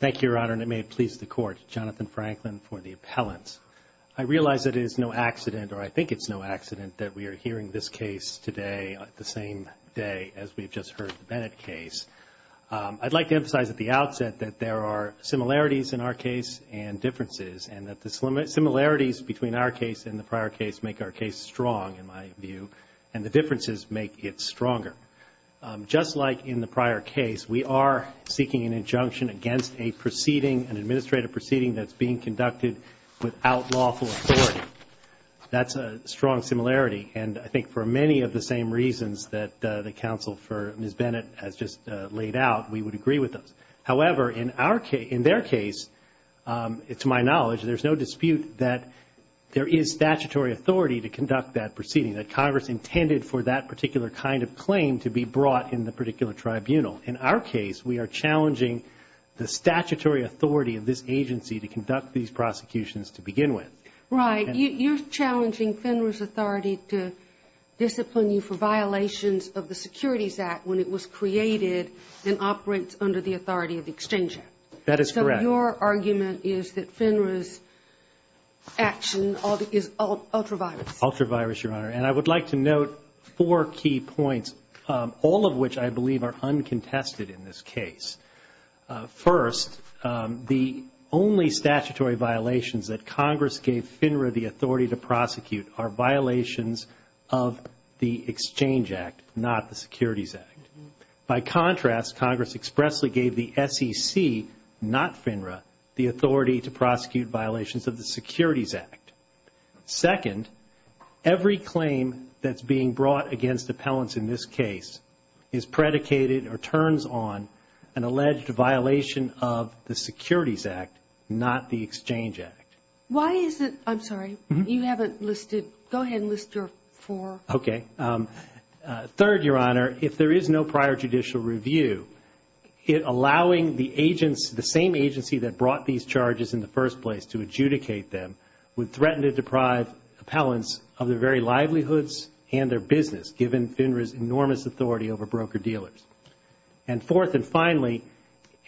Thank you, Your Honor, and it may it please the Court, Jonathan Franklin for the appellant. I realize it is no accident, or I think it's no accident, that we are hearing this case today, the same day as we've just heard the Bennett case. I'd like to emphasize at the outset that there are similarities in our case and differences, and that the similarities between our case and the prior case make our case strong, in my view, and the differences make it stronger. Just like in the prior case, we are seeking an injunction against a proceeding, an administrative proceeding, that's being conducted without lawful authority. That's a strong similarity, and I think for many of the same reasons that the counsel for Ms. Bennett has just laid out, we would agree with those. However, in our case, in their case, to my knowledge, there's no dispute that there is statutory authority to conduct that proceeding, that Congress intended for that particular kind of claim to be brought in the particular tribunal. In our case, we are challenging the statutory authority of this agency to conduct these prosecutions to begin with. Right. You're challenging FINRA's authority to discipline you for violations of the Securities Act when it was created and operates under the authority of the Exchange Act. That is correct. So your argument is that FINRA's action is ultra-virus? Ultra-virus, Your Honor. And I would like to note four key points, all of which I believe are uncontested in this case. First, the only statutory violations that Congress gave FINRA the authority to prosecute are violations of the Exchange Act, not the Securities Act. By contrast, Congress expressly gave the SEC, not FINRA, the authority to prosecute violations of the Securities Act. Second, every claim that's being brought against appellants in this case is predicated or turns on an alleged violation of the Securities Act, not the Exchange Act. Why is it, I'm sorry, you haven't listed, go ahead and list your four. Okay. Third, Your Honor, if there is no prior judicial review, it allowing the agents, the same agency that brought these charges in the first place to adjudicate them would threaten to deprive appellants of their very livelihoods and their business, given FINRA's enormous authority over broker-dealers. And fourth and finally,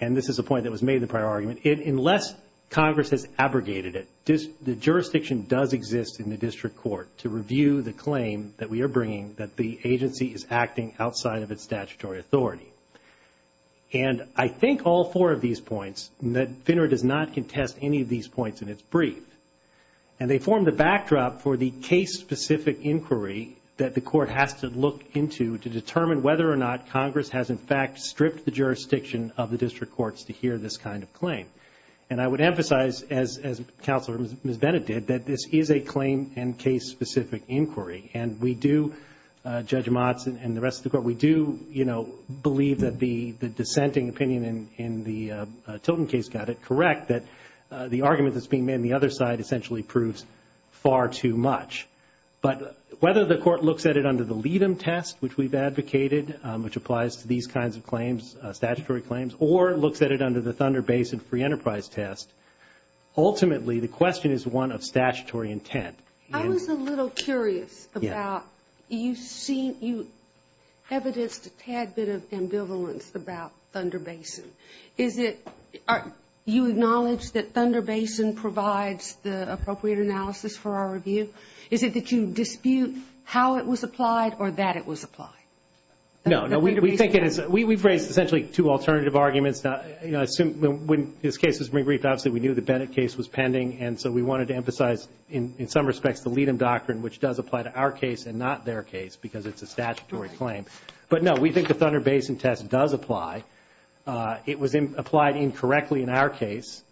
and this is a point that was made in the prior argument, unless Congress has abrogated it, the jurisdiction does exist in the district court to review the claim that we are bringing that the agency is acting outside of its statutory authority. And I think all four of these points, FINRA does not contest any of these points in its brief. And they form the backdrop for the case-specific inquiry that the court has to look into to determine whether or not Congress has, in fact, stripped the jurisdiction of the district courts to hear this kind of as Counselor Ms. Bennett did, that this is a claim and case-specific inquiry. And we do, Judge Motz and the rest of the court, we do, you know, believe that the dissenting opinion in the Tilton case got it correct, that the argument that's being made on the other side essentially proves far too much. But whether the court looks at it under the LEADM test, which we've advocated, which applies to these kinds of claims, statutory claims, or looks at it under the Thunder Basin Free Enterprise test, ultimately the question is one of statutory intent. I was a little curious about, you've seen, you've evidenced a tad bit of ambivalence about Thunder Basin. Is it, you acknowledge that Thunder Basin provides the appropriate analysis for our review? Is it that you dispute how it was applied or that it was applied? No, no, we think it is, we've raised essentially two alternative arguments, you know, when this case was briefed, obviously we knew the Bennett case was pending and so we wanted to emphasize in some respects the LEADM doctrine, which does apply to our case and not their case because it's a statutory claim. But no, we think the Thunder Basin test does apply. It was applied incorrectly in our case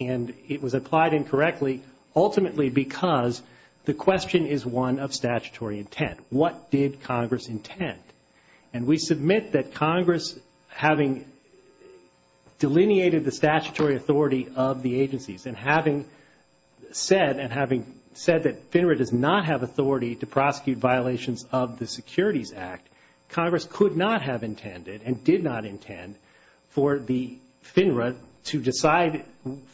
and it was applied incorrectly ultimately because the question is one of statutory intent. What did Congress intend? And we delineated the statutory authority of the agencies. And having said, and having said that FINRA does not have authority to prosecute violations of the Securities Act, Congress could not have intended and did not intend for the FINRA to decide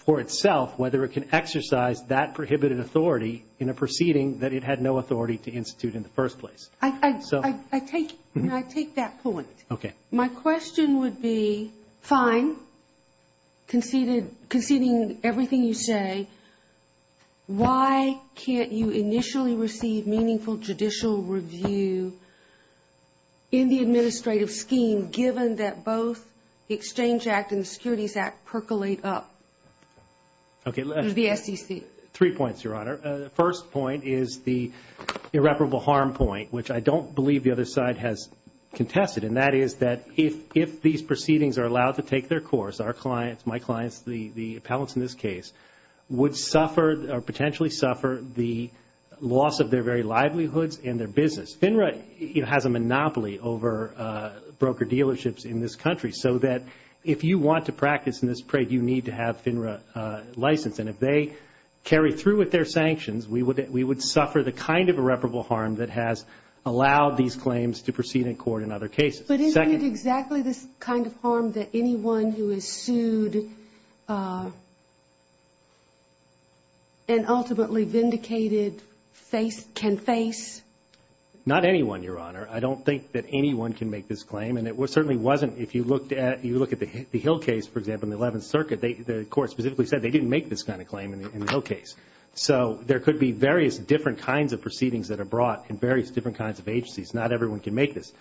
for itself whether it can exercise that prohibited authority in a proceeding that it had no authority to institute in the first place. I take that point. My question would be, fine, conceding everything you say, why can't you initially receive meaningful judicial review in the administrative scheme given that both the Exchange Act and the Securities Act percolate up? Three points, Your Honor. The first point is the irreparable harm point, which I don't believe the other side has contested. And that is that if these proceedings are allowed to take their course, our clients, my clients, the appellants in this case would suffer or potentially suffer the loss of their very livelihoods and their business. FINRA has a monopoly over broker dealerships in this country so that if you want to practice in this trade, you need to have FINRA license. And if they carry through with their allow these claims to proceed in court in other cases. But isn't it exactly this kind of harm that anyone who is sued and ultimately vindicated can face? Not anyone, Your Honor. I don't think that anyone can make this claim. And it certainly wasn't. If you looked at the Hill case, for example, in the Eleventh Circuit, the court specifically said they didn't make this kind of claim in the Hill case. So there could be various different kinds of proceedings that are made by different kinds of agencies. Not everyone can make this.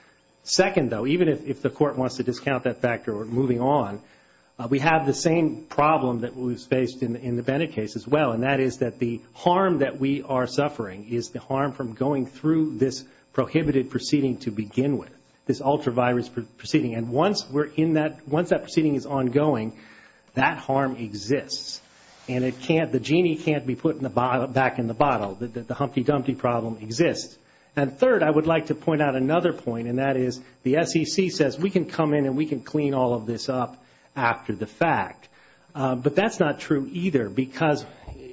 Second, though, even if the court wants to discount that factor or moving on, we have the same problem that was faced in the Bennett case as well. And that is that the harm that we are suffering is the harm from going through this prohibited proceeding to begin with, this ultra-virus proceeding. And once we're in that, once that proceeding is ongoing, that harm exists. And it can't, the genie can't be put in the bottle, back in the bottle. The Humpty Dumpty problem exists. And third, I would like to point out another point, and that is the SEC says, we can come in and we can clean all of this up after the fact. But that's not true either because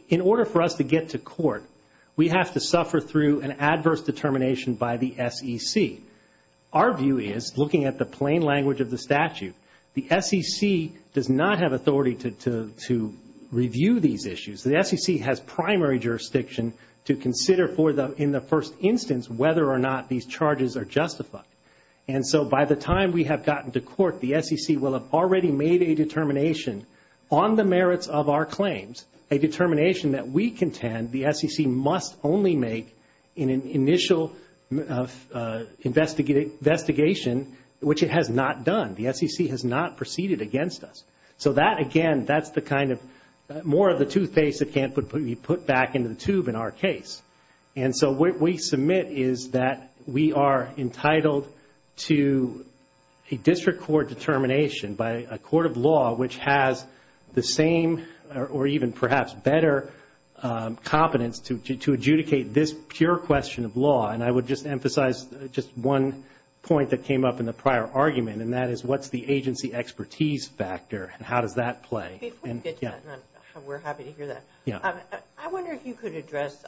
in order for us to get to court, we have to suffer through an adverse determination by the SEC. Our view is, looking at the plain language of the statute, the SEC does not have authority to review these issues. The SEC has primary jurisdiction to consider in the first instance whether or not these charges are justified. And so by the time we have gotten to court, the SEC will have already made a determination on the merits of our claims, a determination that we contend the SEC must only make in an initial investigation, which it has not done. The SEC has not proceeded against us. So that again, that's the kind of, more of the toothpaste that can't be put back into the tube in our case. And so what we submit is that we are entitled to a district court determination by a court of law which has the same or even perhaps better competence to adjudicate this pure question of law. And I would just emphasize just one point that came up in the prior argument, and that is what's the agency expertise factor and how does that play? Before we get to that, and we're happy to hear that, I wonder if you could address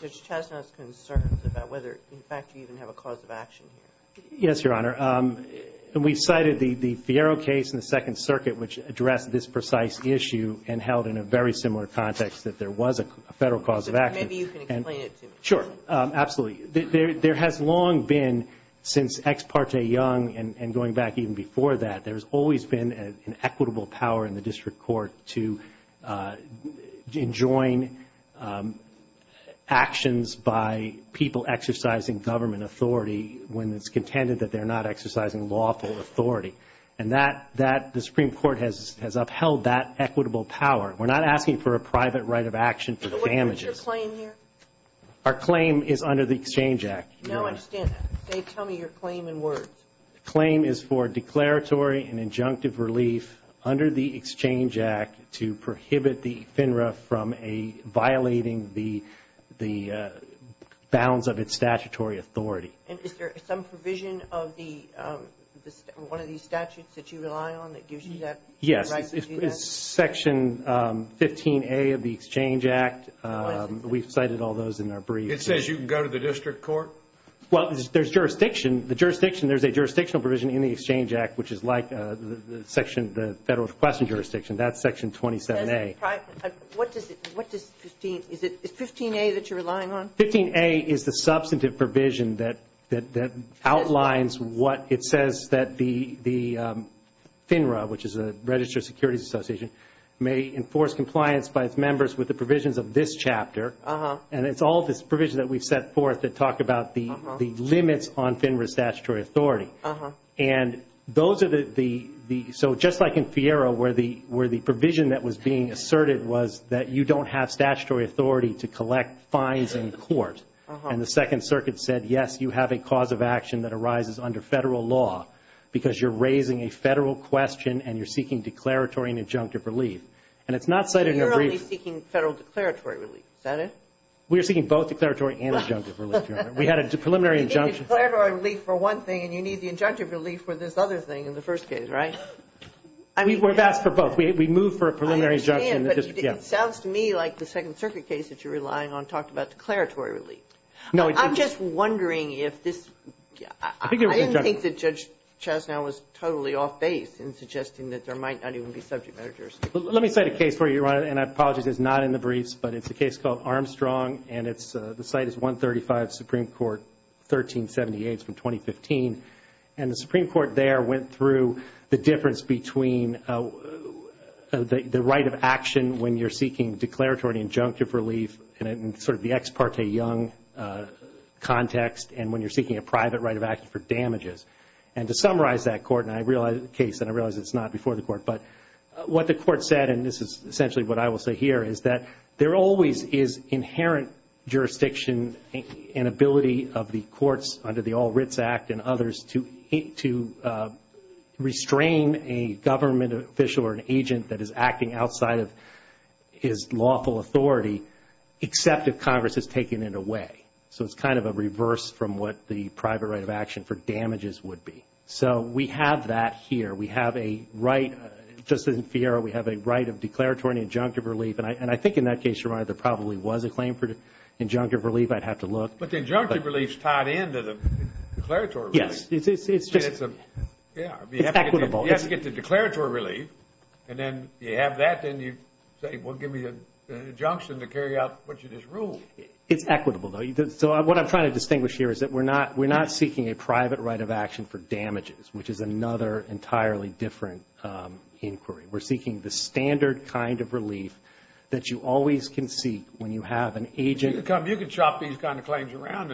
Judge Chesno's concerns about whether, in fact, you even have a cause of action here. Yes, Your Honor. We cited the Fiero case in the Second Circuit which addressed this precise issue and held in a very similar context that there was a federal cause of action. Maybe you can explain it to me. Sure, absolutely. There has long been, since Ex parte Young and going back even before that, there's always been an equitable power in the district court to enjoin actions by people exercising government authority when it's contended that they're not exercising lawful authority. And that, the Supreme Court has upheld that equitable power. We're not asking for a private right of action for damages. So what's your claim here? Our claim is for declaratory and injunctive relief under the Exchange Act to prohibit the FINRA from violating the bounds of its statutory authority. Is there some provision of one of these statutes that you rely on that gives you that right to do that? Yes. It's Section 15A of the Exchange Act. We've cited all those in our brief. It says you can go to the district court? Well, there's a jurisdictional provision in the Exchange Act, which is like the section of the Federal Request and Jurisdiction. That's Section 27A. Is 15A that you're relying on? 15A is the substantive provision that outlines what it says that the FINRA, which is the Registered Securities Association, may enforce compliance by its members with the provisions of this chapter. And it's all this provision that we've set forth that talk about the limits on FINRA's statutory authority. And those are the – so just like in FIRA, where the provision that was being asserted was that you don't have statutory authority to collect fines in court. And the Second Circuit said, yes, you have a cause of action that arises under Federal law because you're raising a Federal question and you're seeking declaratory and injunctive relief. And it's not cited in the brief. So you're only seeking Federal declaratory relief, is that it? We're seeking both declaratory and injunctive relief, Your Honor. We had a preliminary injunction. You think it's declaratory relief for one thing and you need the injunctive relief for this other thing in the first case, right? We've asked for both. We moved for a preliminary injunction. I understand, but it sounds to me like the Second Circuit case that you're relying on talked about declaratory relief. No, it didn't. I'm just wondering if this – I didn't think that Judge Chastanet was totally off base in suggesting that there might not even be subject matter jurisdiction. Let me cite a case for you, Your Honor, and I apologize it's not in the briefs, but it's a case called Armstrong and it's – the site is 135 Supreme Court 1378 from 2015. And the Supreme Court there went through the difference between the right of action when you're seeking declaratory injunctive relief in sort of the ex parte young context and when you're seeking a private right of action for damages. And to summarize that court, and I realize the case and I realize it's not before the court, but what the court said, and this is essentially what I will say here, is that there always is inherent jurisdiction and ability of the courts under the All Writs Act and others to restrain a government official or an agent that is acting outside of his lawful authority, except if Congress has taken it away. So it's kind of a reverse from what the private right of action for damages would be. So we have that here. We have a right, just as in FIERA, we have a right of declaratory injunctive relief. And I think in that case, Your Honor, there probably was a claim for injunctive relief. I'd have to look. But the injunctive relief is tied into the declaratory relief. Yes. It's just – It's a – yeah. It's equitable. You have to get the declaratory relief and then you have that, then you say, well, give me an injunction to carry out what you just ruled. It's equitable, though. So what I'm trying to distinguish here is that we're not seeking a private right of action for damages, which is another entirely different inquiry. We're seeking the standard kind of relief that you always can seek when you have an agent. You can come – you can chop these kind of claims around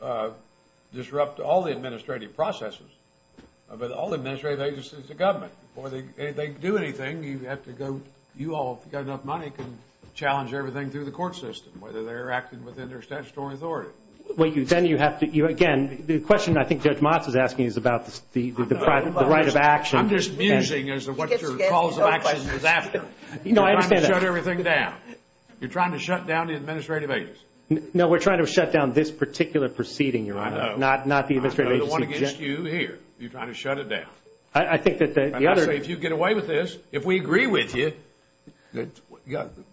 and disrupt all the administrative processes. But all the administrative agencies, the government, before they do anything, you have to go – you all, if you've got enough money, can challenge everything through the court system, whether they're acting within their statutory authority. Well, then you have to – again, the question I think Judge Motz is asking is about the private – The right of action. I'm just musing as to what your calls of action is after. No, I understand that. You're trying to shut everything down. You're trying to shut down the administrative agency. No, we're trying to shut down this particular proceeding, Your Honor. I know. Not the administrative agency. I know the one against you here. You're trying to shut it down. I think that the other – I'm not saying if you get away with this. If we agree with you,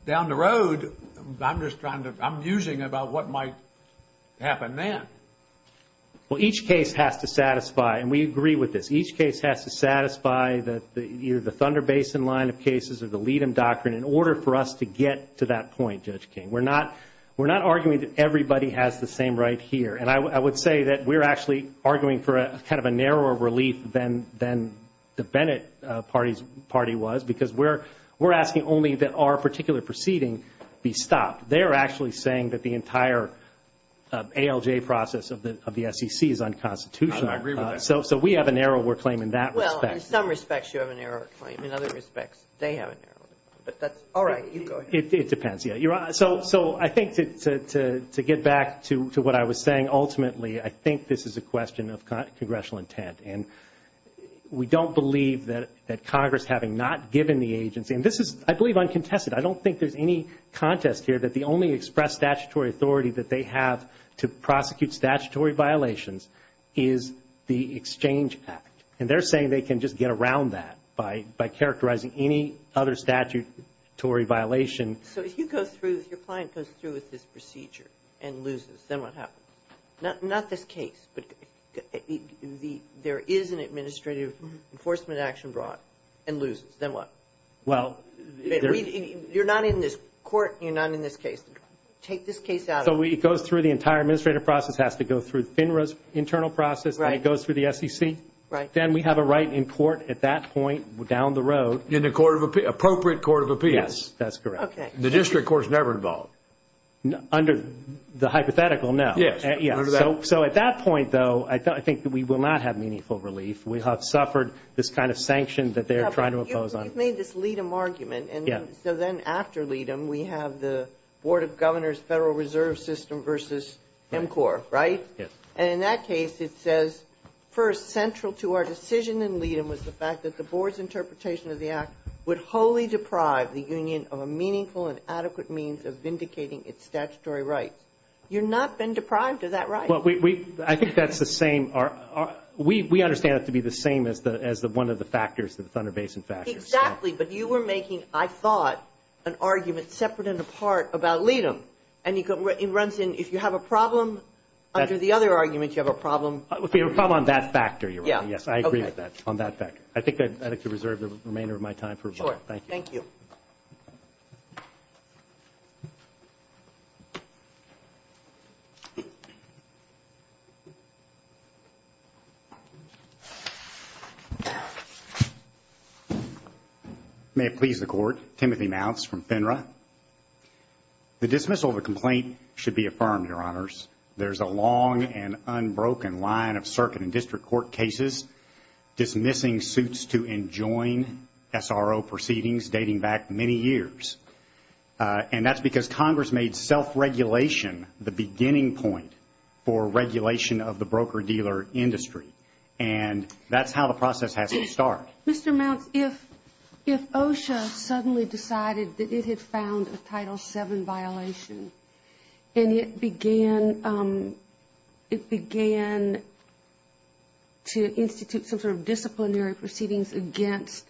down the road, I'm just trying to – I'm musing about what might happen then. Well, each case has to satisfy – and we agree with this – each case has to satisfy either the Thunder Basin line of cases or the Leadham Doctrine in order for us to get to that point, Judge King. We're not – we're not arguing that everybody has the same right here. And I would say that we're actually arguing for a – kind of a narrower relief than the Bennett party was because we're asking only that our particular proceeding be stopped. They're actually saying that the entire ALJ process of the SEC is unconstitutional. I agree with that. So we have a narrower claim in that respect. Well, in some respects, you have a narrower claim. In other respects, they have a narrower claim. But that's – all right. You go ahead. It depends, Your Honor. So I think to get back to what I was saying, ultimately, I think this is a question of congressional intent. And we don't believe that Congress, having not given the agency – and this is, I believe, uncontested. I don't think there's any contest here that the only expressed statutory authority that they have to prosecute statutory violations is the Exchange Act. And they're saying they can just get around that by characterizing any other statutory violation. So if you go through – if your client goes through with this procedure and loses, then what happens? Not this case, but there is an administrative enforcement action brought and loses. Then what? Well, you're not in this court. You're not in this case. Take this case out. So it goes through – the entire administrative process has to go through FINRA's internal process. And it goes through the SEC. Right. Then we have a right in court at that point down the road. In the court of – appropriate court of appeals. Yes. That's correct. Okay. The district court's never involved. Under the hypothetical, no. Yes. Yes. So at that point, though, I think that we will not have meaningful relief. We have suffered this kind of sanction that they're trying to impose on – You've made this Leedem argument. Yeah. So then after Leedem, we have the Board of Governors Federal Reserve System versus MCOR, right? Yes. And in that case, it says, first, central to our decision in Leedem was the fact that the board's interpretation of the act would wholly deprive the union of a meaningful and adequate means of vindicating its statutory rights. You've not been deprived of that right. Well, we – I think that's the same – we understand it to be the same as the – as one of the factors of the Thunder Basin factors. Exactly. But you were making, I thought, an argument separate and apart about Leedem. And it runs in – if you have a problem under the other argument, you have a problem – It would be a problem on that factor, Your Honor. Yeah. Yes. I agree with that, on that factor. I think I'd like to reserve the remainder of my time for rebuttal. Sure. Thank you. May it please the Court. Timothy Mounts from FINRA. The dismissal of a complaint should be affirmed, Your Honors. There's a long and unbroken line of circuit and district court cases dismissing suits to enjoin SRO proceedings dating back many years. And that's because Congress made self-regulation the beginning point for regulation of the broker-dealer industry. And that's how the process has to start. Mr. Mounts, if – if OSHA suddenly decided that it had found a Title VII violation and it began – it began to institute some sort of disciplinary proceedings against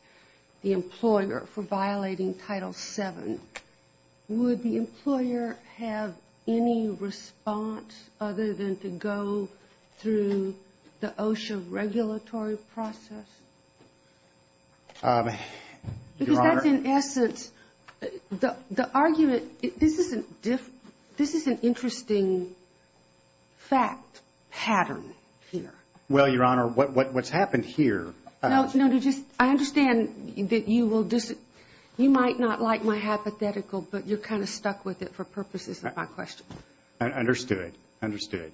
the employer for violating Title VII, would the employer have any response other than to go through the OSHA regulatory process? Your Honor – Because that's, in essence – the argument – this is a – this is an interesting fact pattern here. Well, Your Honor, what's happened here – No, no, just – I understand that you will – you might not like my hypothetical, but you're kind of stuck with it for purposes of my question. Understood. Understood.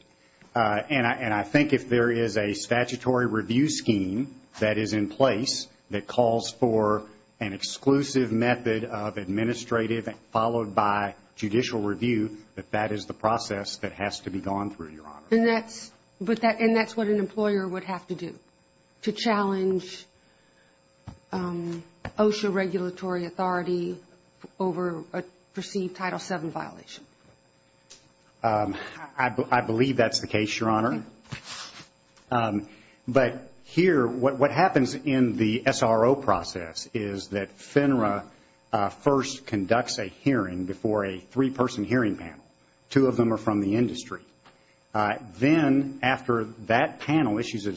And I think if there is a statutory review scheme that is in place that calls for an exclusive method of administrative followed by judicial review, that that is the process that has to be gone through, Your Honor. And that's – and that's what an employer would have to do to challenge OSHA regulatory authority over a perceived Title VII violation. I believe that's the case, Your Honor. But here, what happens in the SRO process is that FINRA first conducts a hearing before a three-person hearing panel. Two of them are from the industry. Then, after that panel issues a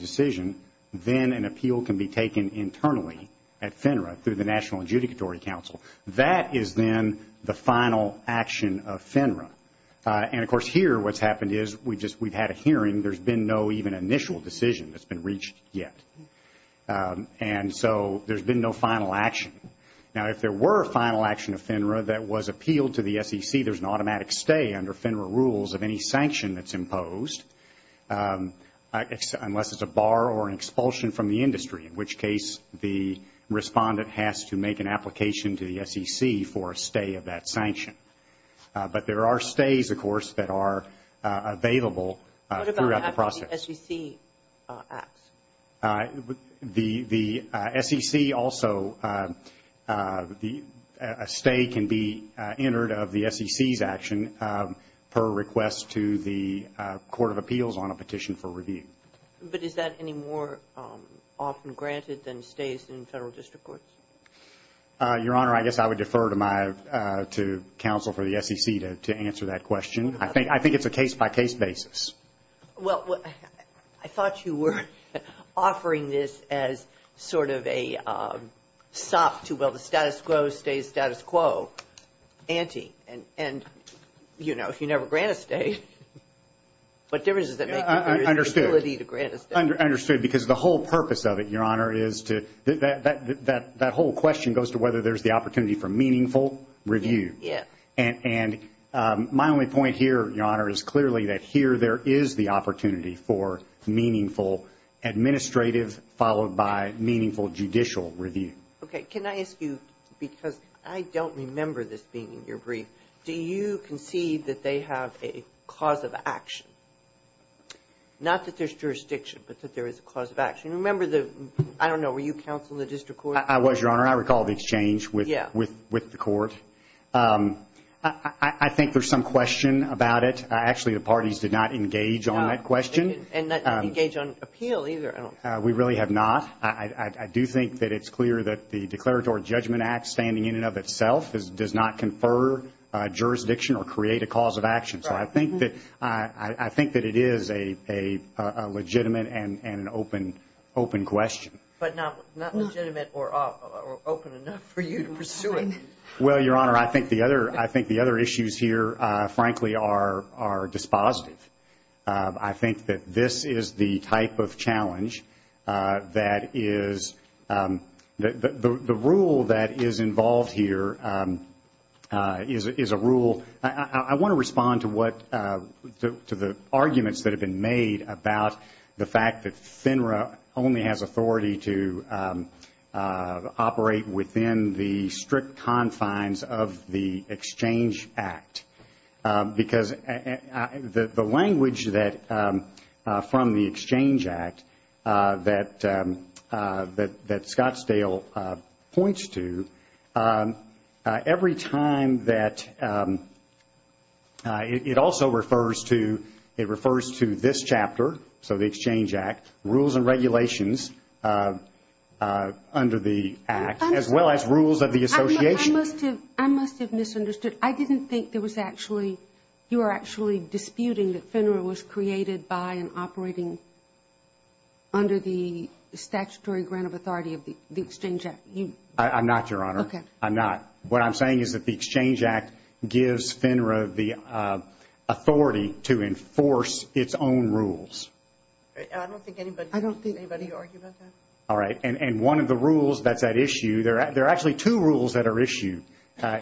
FINRA, through the National Adjudicatory Council. That is then the final action of FINRA. And, of course, here what's happened is we've just – we've had a hearing. There's been no even initial decision that's been reached yet. And so, there's been no final action. Now, if there were a final action of FINRA that was appealed to the SEC, there's an automatic stay under FINRA rules of any sanction that's imposed, unless it's a bar or an expulsion from the industry, in which case the respondent has to make an application to the SEC for a stay of that sanction. But there are stays, of course, that are available throughout the process. What about after the SEC acts? The SEC also – a stay can be entered of the SEC's action per request to the appeals on a petition for review. But is that any more often granted than stays in federal district courts? Your Honor, I guess I would defer to my – to counsel for the SEC to answer that question. I think it's a case-by-case basis. Well, I thought you were offering this as sort of a status quo-stays-status quo ante. And, you know, if you never grant a stay, what difference does it make to your ability to grant a stay? Understood. Because the whole purpose of it, Your Honor, is to – that whole question goes to whether there's the opportunity for meaningful review. And my only point here, Your Honor, is clearly that here there is the opportunity for meaningful administrative followed by judicial review. Okay. Can I ask you, because I don't remember this being in your brief, do you concede that they have a cause of action? Not that there's jurisdiction, but that there is a cause of action. Remember the – I don't know, were you counsel in the district court? I was, Your Honor. I recall the exchange with the court. I think there's some question about it. Actually, the parties did not engage on that question. And not engage on appeal either, I don't think. We really have not. I do think that it's clear that the Declaratory Judgment Act standing in and of itself does not confer jurisdiction or create a cause of action. So I think that it is a legitimate and an open question. But not legitimate or open enough for you to pursue it. Well, Your Honor, I think the other issues here, frankly, are dispositive. I think that this is the type of challenge that is – the rule that is involved here is a rule – I want to respond to what – to the arguments that have been made about the fact that FINRA only has authority to operate within the strict confines of the Exchange Act. Because the language that – from the Exchange Act that Scottsdale points to, every time that – it also refers to – it refers to this chapter, so the Exchange Act, rules and regulations under the Act, as well as rules of the association. I must have misunderstood. I didn't think there was actually – you were actually disputing that FINRA was created by and operating under the statutory grant of authority of the Exchange Act. I'm not, Your Honor. Okay. I'm not. What I'm saying is that the Exchange Act gives FINRA the authority to enforce its own rules. I don't think anybody argued about that. All right. And one of the rules that's at issue – there are actually two rules that are issued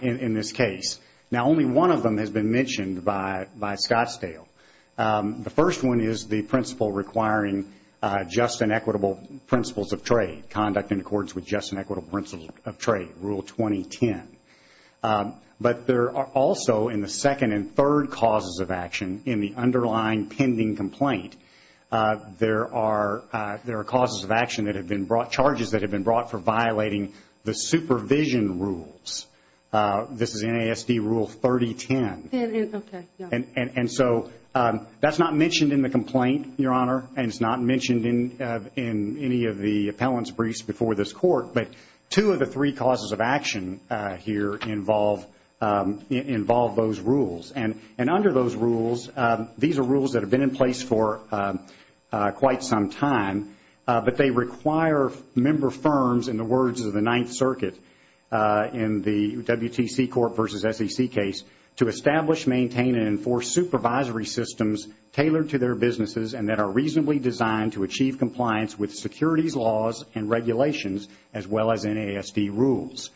in this case. Now, only one of them has been mentioned by Scottsdale. The first one is the principle requiring just and equitable principles of trade, conduct in accordance with just and equitable principles of trade, Rule 2010. But there are also, in the second and third causes of action, in the underlying pending complaint, there are causes of action that have been brought – charges that have been brought for violating the supervision rules. This is NASD Rule 3010. And so that's not mentioned in the complaint, Your Honor, and it's not mentioned in any of the appellant's briefs before this Court. But two of the three causes of action here involve those rules. And under those rules, these are rules that have been in place for quite some time, but they require member firms, in the words of the Ninth Circuit in the WTC Court versus SEC case, to establish, maintain and enforce supervisory systems tailored to their businesses and that are reasonably designed to achieve compliance with securities laws and regulations as well as NASD rules.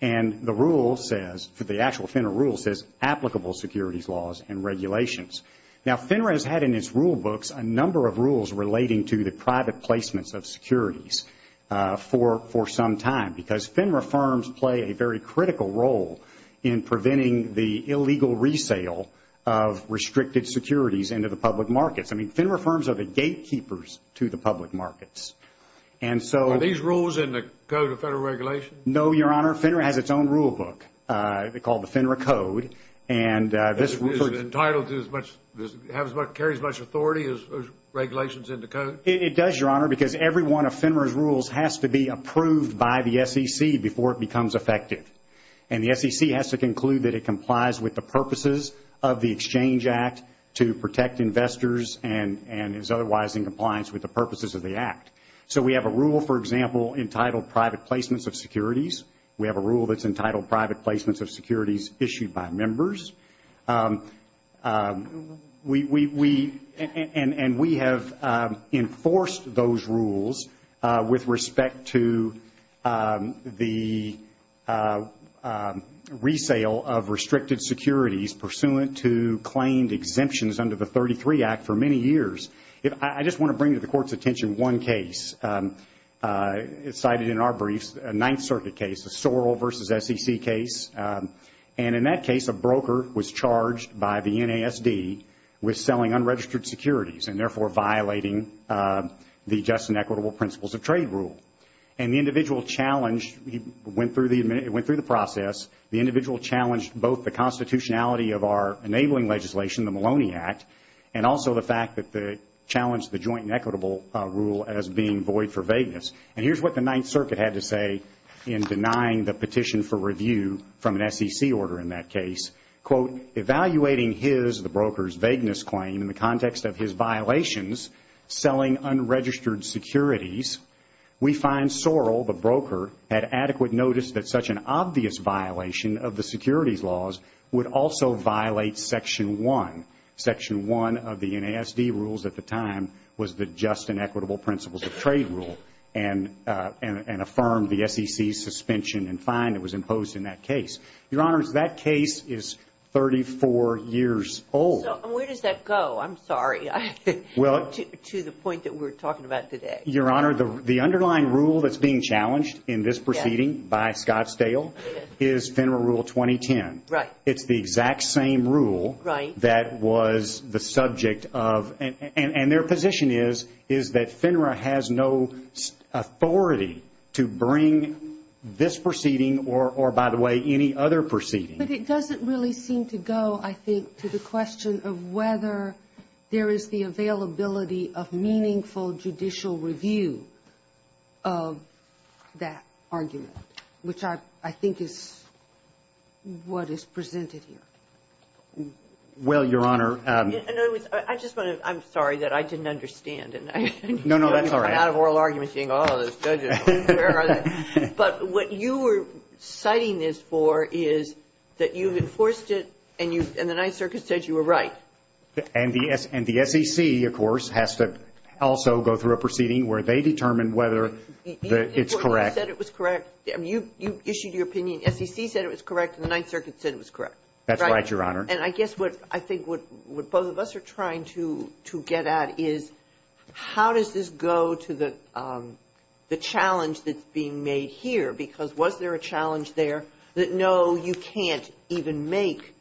And the rule says – the actual FINRA rule says applicable securities laws and regulations. Now, FINRA has had in its rule books a number of rules relating to the private placements of securities for some time because FINRA firms play a very critical role in preventing the illegal resale of restricted securities into the public markets. I mean, FINRA firms are the gatekeepers to the public markets. And so – Are these rules in the Code of Federal Regulations? No, Your Honor. FINRA has its own rule book called the FINRA Code. And is it entitled to as much – carries as much authority as regulations in the Code? It does, Your Honor, because every one of FINRA's rules has to be approved by the SEC before it becomes effective. And the SEC has to conclude that it complies with the purposes of the Exchange Act to protect investors and is otherwise in compliance with the purposes of the Act. So we have a rule, for example, entitled private placements of securities. We have a rule that's entitled private placements of securities issued by members. We – and we have enforced those rules with respect to the resale of restricted securities pursuant to claimed exemptions under the 33 Act for many years. I just want to bring to the Court's attention one case cited in our briefs, a Ninth Circuit case, a Sorrell v. SEC case. And in that case, a broker was charged by the NASD with selling unregistered securities and therefore violating the just and equitable principles of trade rule. And the individual challenged – he went through the – it went through the process. The individual challenged both the constitutionality of our enabling legislation, the Maloney Act, and also the fact that the – challenged the joint and equitable rule as being void for vagueness. And here's what the Ninth Circuit had to say in denying the petition for review from an SEC order in that case. Quote, Evaluating his, the broker's, vagueness claim in the context of his violations selling unregistered securities, we find Sorrell, the broker, had adequate notice that such an obvious violation of the securities laws would also violate Section 1. Section 1 of the NASD rules at the time was the just and equitable principles of trade rule and affirmed the SEC's fine that was imposed in that case. Your Honor, that case is 34 years old. So where does that go? I'm sorry. Well – To the point that we're talking about today. Your Honor, the underlying rule that's being challenged in this proceeding by Scott Stahel is FINRA Rule 2010. Right. It's the exact same rule that was the subject of – and their position is, is that FINRA has no authority to bring this proceeding or, by the way, any other proceeding. But it doesn't really seem to go, I think, to the question of whether there is the availability of meaningful judicial review of that argument, which I think is what is presented here. Well, Your Honor – No, I just want to – I'm sorry that I didn't understand. No, no, that's all right. Out of oral argument, saying, oh, those judges, where are they? But what you were citing this for is that you've enforced it and the Ninth Circuit said you were right. And the SEC, of course, has to also go through a proceeding where they determine whether it's correct. You said it was correct. I mean, you issued your opinion. The SEC said it was correct and the Ninth Circuit said it was correct. That's right, Your Honor. And I guess what – I think what both of us are trying to get at is, how does this go to the challenge that's being made here? Because was there a challenge there that, no, you can't even make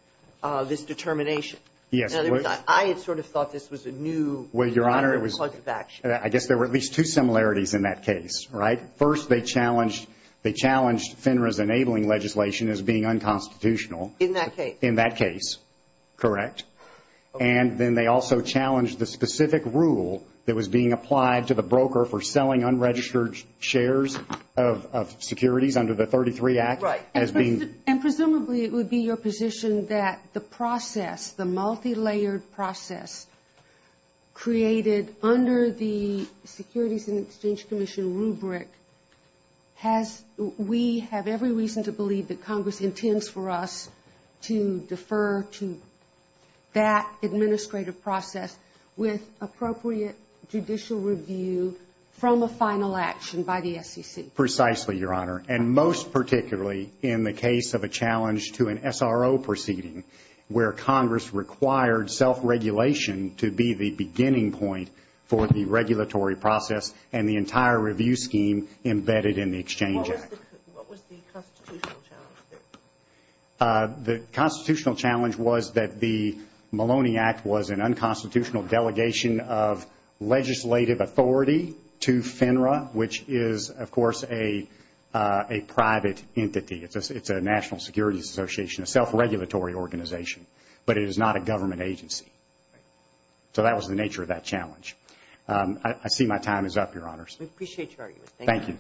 this determination? Yes, well – I had sort of thought this was a new – Well, Your Honor, it was – I guess there were at least two similarities in that case, right? First, they challenged – they challenged FINRA's enabling legislation as being unconstitutional. In that case. Correct. And then they also challenged the specific rule that was being applied to the broker for selling unregistered shares of securities under the 33 Act. Right. As being – And presumably it would be your position that the process, the multilayered process created under the Securities and Exchange Commission rubric has – we have every to that administrative process with appropriate judicial review from a final action by the SEC? Precisely, Your Honor, and most particularly in the case of a challenge to an SRO proceeding where Congress required self-regulation to be the beginning point for the regulatory process and the entire review scheme embedded in the Exchange Act. What was the constitutional challenge there? The constitutional challenge was that the Maloney Act was an unconstitutional delegation of legislative authority to FINRA, which is, of course, a private entity. It's a national securities association, a self-regulatory organization, but it is not a government agency. So that was the nature of that challenge. I see my time is up, Your Honors. We appreciate your argument. Thank you.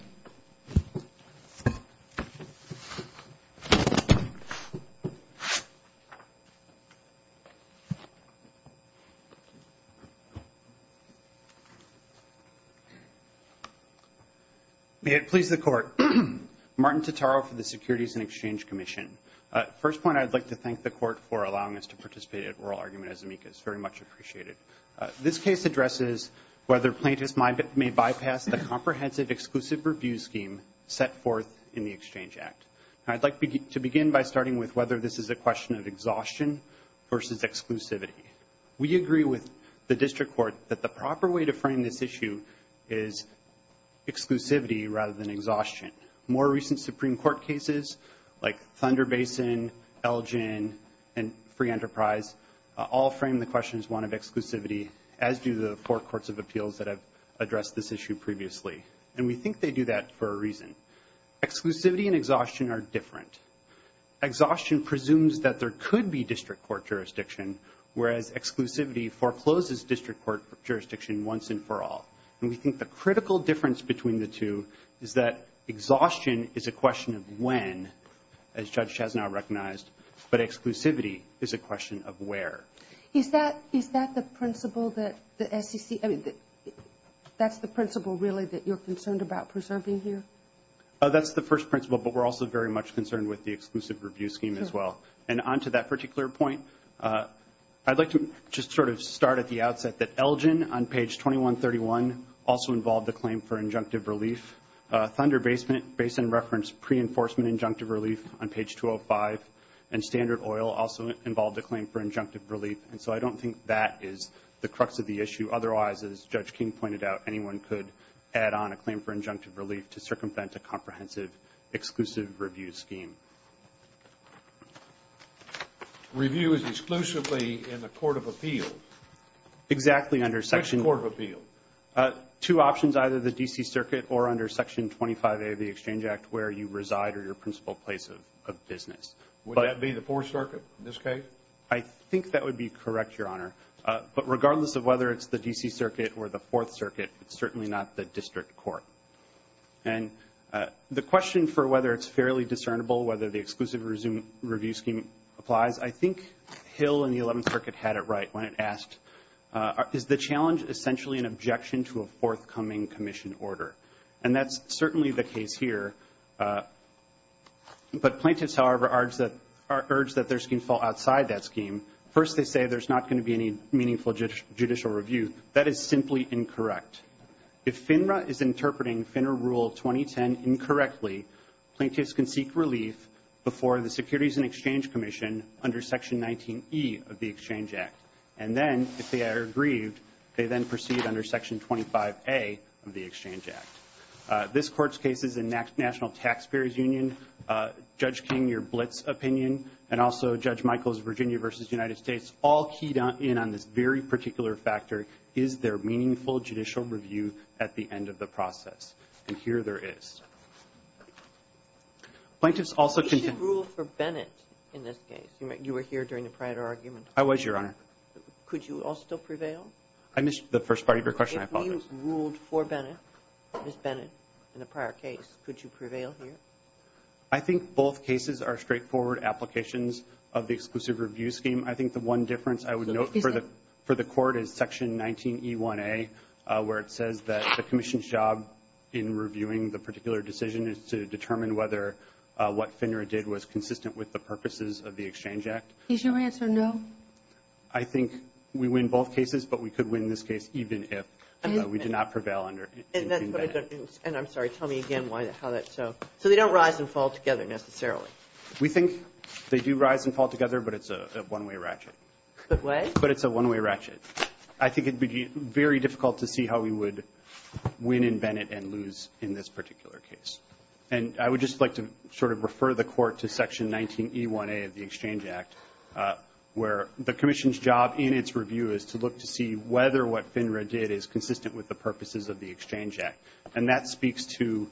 Thank you. May it please the Court. Martin Totaro for the Securities and Exchange Commission. First point, I'd like to thank the Court for allowing us to participate at oral argument as amicus. Very much appreciated. This case addresses whether plaintiffs may bypass the comprehensive exclusive review scheme set forth in the Exchange Act. I'd like to begin by starting with whether this is a question of exhaustion versus exclusivity. We agree with the District Court that the proper way to frame this issue is exclusivity rather than exhaustion. More recent Supreme Court cases like Thunder Basin, Elgin, and Free Enterprise all frame the question as one of exclusivity, as do the four courts of appeals that have addressed this issue previously. And we think they do that for a reason. Exclusivity and exhaustion are different. Exhaustion presumes that there could be District Court jurisdiction, whereas exclusivity forecloses District Court jurisdiction once and for all. And we think the critical difference between the two is that exhaustion is a question of when, as Judge Chazanow recognized, but exclusivity is a question of where. Is that the principle that the SEC, I mean, that's the principle really that you're concerned about preserving here? That's the first principle, but we're also very much concerned with the exclusive review scheme as well. And on to that particular point, I'd like to just sort of start at the outset that Elgin on page 2131 also involved a claim for injunctive relief. Thunder Basin referenced pre-enforcement injunctive relief on page 205. And Standard Oil also involved a claim for injunctive relief. And so I don't think that is the crux of the issue. Otherwise, as Judge King pointed out, anyone could add on a claim for injunctive relief to circumvent a comprehensive, exclusive review scheme. Review is exclusively in the Court of Appeal. Exactly. Which Court of Appeal? Two options, either the D.C. Circuit or under Section 25A of the Exchange Act where you reside or your principal place of business. Would that be the Fourth Circuit in this case? I think that would be correct, Your Honor. But regardless of whether it's the D.C. Circuit or the Fourth Circuit, it's certainly not the District Court. And the question for whether it's fairly discernible, whether the exclusive review scheme applies, I think Hill in the Eleventh Circuit had it right when it asked, is the challenge essentially an objection to a forthcoming commission order? And that's certainly the case here. But plaintiffs, however, are urged that their scheme fall outside that scheme. First, they say there's not going to be any meaningful judicial review. That is simply incorrect. If FINRA is interpreting FINRA Rule 2010 incorrectly, plaintiffs can seek relief before the Securities and Exchange Commission under Section 19E of the Exchange Act. And then if they are aggrieved, they then proceed under Section 25A of the Exchange Act. This Court's cases in National Taxpayers Union, Judge King, your Blitz opinion, and also Judge Michaels' Virginia v. United States, all keyed in on this very particular factor. Is there meaningful judicial review at the end of the process? And here there is. Plaintiffs also contend We should rule for Bennett in this case. You were here during the prior argument. I was, Your Honor. Could you also prevail? I missed the first part of your question. I apologize. If you ruled for Bennett, Ms. Bennett, in the prior case, could you prevail here? I think both cases are straightforward applications of the exclusive review scheme. I think the one difference I would note for the Court is Section 19E1A, where it says that the Commission's job in reviewing the particular decision is to determine whether what FINRA did was consistent with the purposes of the Exchange Act. Is your answer no? I think we win both cases, but we could win this case even if we did not prevail under Bennett. And I'm sorry. Tell me again how that's so. So they don't rise and fall together necessarily? We think they do rise and fall together, but it's a one-way ratchet. What? But it's a one-way ratchet. I think it would be very difficult to see how we would win in Bennett and lose in this particular case. And I would just like to sort of refer the Court to Section 19E1A of the Exchange Act, where the Commission's job in its review is to look to see whether what FINRA did is consistent with the purposes of the Exchange Act. And that speaks to,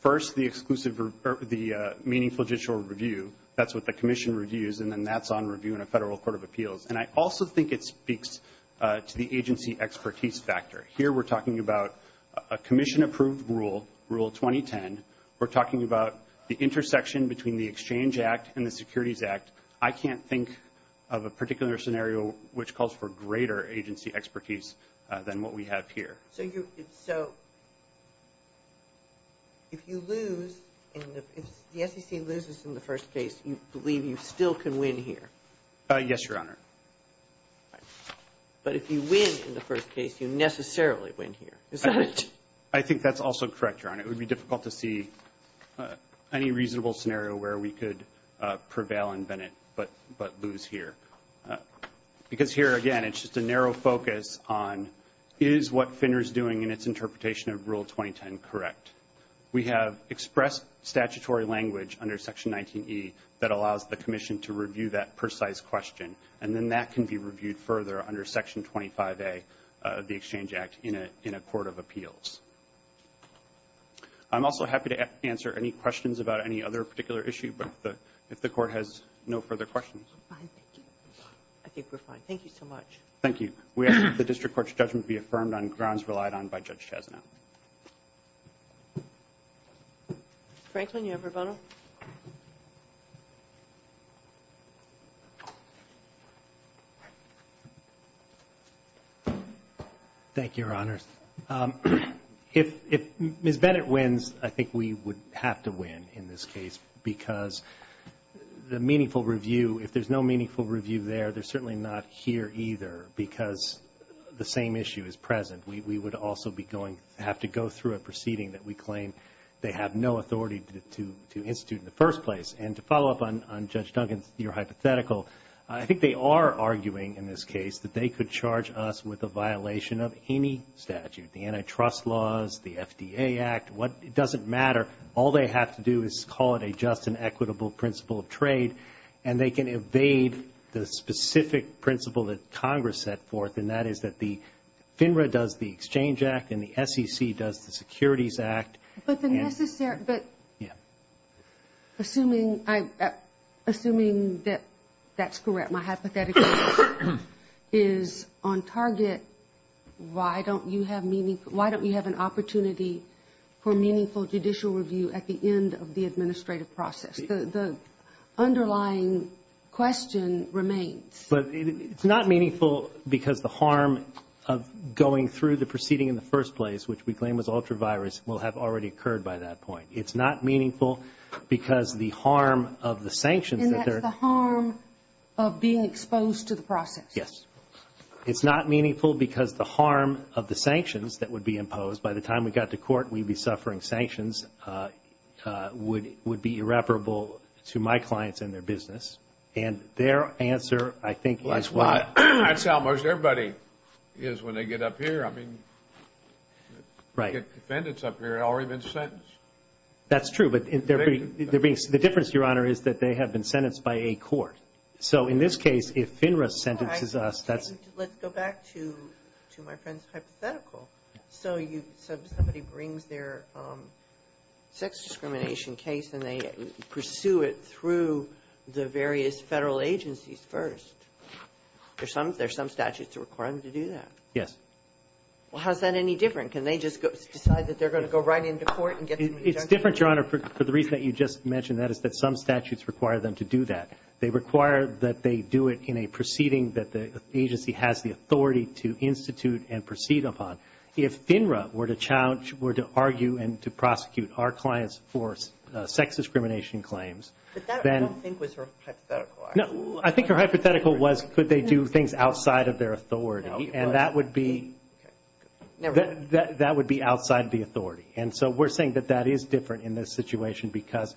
first, the exclusive or the meaningful judicial review. That's what the Commission reviews, and then that's on review in a federal court of appeals. And I also think it speaks to the agency expertise factor. Here we're talking about a Commission-approved rule, Rule 2010. We're talking about the intersection between the Exchange Act and the Securities Act. I can't think of a particular scenario which calls for greater agency expertise than what we have here. So if the SEC loses in the first case, you believe you still can win here? Yes, Your Honor. But if you win in the first case, you necessarily win here. Is that it? I think that's also correct, Your Honor. It would be difficult to see any reasonable scenario where we could prevail in Bennett but lose here. Because here, again, it's just a narrow focus on, is what FINRA's doing in its interpretation of Rule 2010 correct? We have expressed statutory language under Section 19E that allows the Commission to review that precise question. And then that can be reviewed further under Section 25A of the Exchange Act in a court of appeals. I'm also happy to answer any questions about any other particular issue, but if the Court has no further questions. I'm fine, thank you. I think we're fine. Thank you so much. Thank you. We ask that the District Court's judgment be affirmed on grounds relied on by Judge Chesnow. Franklin, you have your button? Thank you, Your Honor. If Ms. Bennett wins, I think we would have to win in this case because the meaningful review there. They're certainly not here either because the same issue is present. We would also be going to have to go through a proceeding that we claim they have no authority to institute in the first place. And to follow up on Judge Duncan's hypothetical, I think they are arguing in this case that they could charge us with a violation of any statute, the antitrust laws, the FDA Act, what, it doesn't matter. All they have to do is call it a just and equitable principle of trade and they can evade the specific principle that Congress set forth. And that is that the FINRA does the Exchange Act and the SEC does the Securities Act. But the necessary, but assuming that that's correct, my hypothetical is on target, why don't you have meaningful, why don't we have an opportunity for meaningful judicial review at the end of the administrative process? The underlying question remains. But it's not meaningful because the harm of going through the proceeding in the first place, which we claim was ultra-virus, will have already occurred by that point. It's not meaningful because the harm of the sanctions that they're And that's the harm of being exposed to the process. Yes. It's not meaningful because the harm of the sanctions that would be imposed by the time we got to court, we'd be suffering sanctions, would be irreparable to my clients and their business. And their answer, I think, is why. That's how most everybody is when they get up here. I mean, defendants up here have already been sentenced. That's true. But the difference, Your Honor, is that they have been sentenced by a court. So in this case, if FINRA sentences us, that's... Let's go back to my friend's hypothetical. So you said somebody brings their sex discrimination case, and they pursue it through the various Federal agencies first. There's some statutes that require them to do that. Yes. Well, how is that any different? Can they just decide that they're going to go right into court and get an injunction? It's different, Your Honor, for the reason that you just mentioned. That is that some statutes require them to do that. They require that they do it in a proceeding that the agency has the authority to institute and proceed upon. If FINRA were to challenge, were to argue and to prosecute our clients for sex discrimination claims, then... But that, I don't think, was her hypothetical. No. I think her hypothetical was could they do things outside of their authority. And that would be... That would be outside the authority. And so we're saying that that is different in this situation because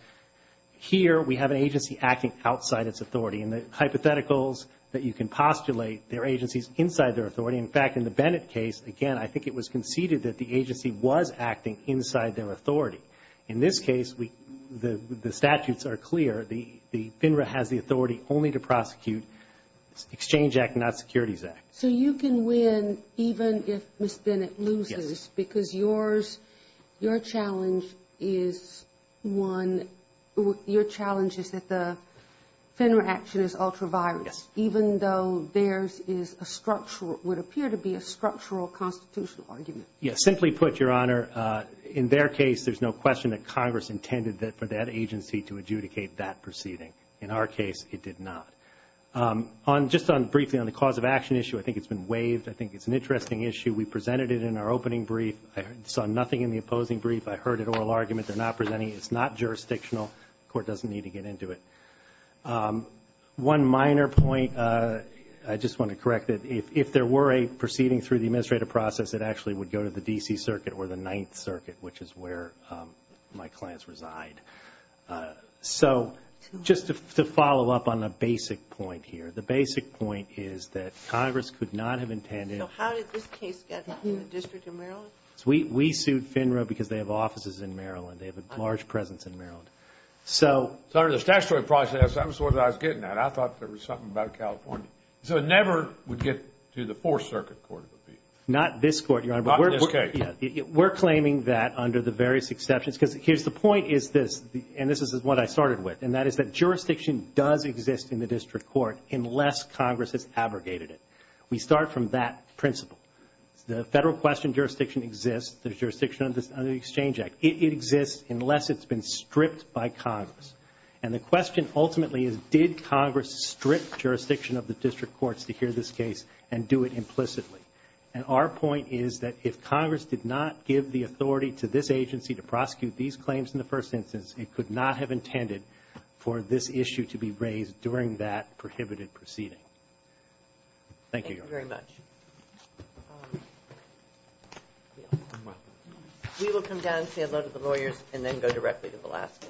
here we have an agency acting outside its authority. And the hypotheticals that you can postulate, their agency is inside their authority. In fact, in the Bennett case, again, I think it was conceded that the agency was acting inside their authority. In this case, the statutes are clear. The FINRA has the authority only to prosecute Exchange Act, not Securities Act. So you can win even if Ms. Bennett loses? Yes. Because yours, your challenge is one, your challenge is that the FINRA action is ultraviolent. Yes. Even though theirs is a structural, would appear to be a structural constitutional argument. Yes. Simply put, Your Honor, in their case, there's no question that Congress intended that for that agency to adjudicate that proceeding. In our case, it did not. Just on briefly on the cause of action issue, I think it's been waived. I think it's an interesting issue. We presented it in our opening brief. I saw nothing in the opposing brief. I heard an oral argument. They're not presenting. It's not jurisdictional. Court doesn't need to get into it. One minor point, I just want to correct it. If there were a proceeding through the administrative process, it actually would go to the D.C. Circuit or the Ninth Circuit, which is where my clients reside. So just to follow up on a basic point here, the basic point is that Congress could not have intended. So how did this case get in the District of Maryland? We sued FINRA because they have offices in Maryland. They have a large presence in Maryland. So under the statutory process, that was sort of what I was getting at. I thought there was something about California. So it never would get to the Fourth Circuit Court of Appeals. Not this Court, Your Honor. Not this case. We're claiming that under the various exceptions. Because here's the point is this, and this is what I started with, and that is that jurisdiction does exist in the District Court unless Congress has abrogated it. We start from that principle. The federal question jurisdiction exists. There's jurisdiction under the Exchange Act. It exists unless it's been stripped by Congress. And the question ultimately is did Congress strip jurisdiction of the District Courts to hear this case and do it implicitly? And our point is that if Congress did not give the authority to this agency to prosecute these claims in the first instance, it could not have intended for this issue to be raised during that prohibited proceeding. Thank you, Your Honor. Thank you very much. We will come down and say hello to the lawyers and then go directly to Velasquez.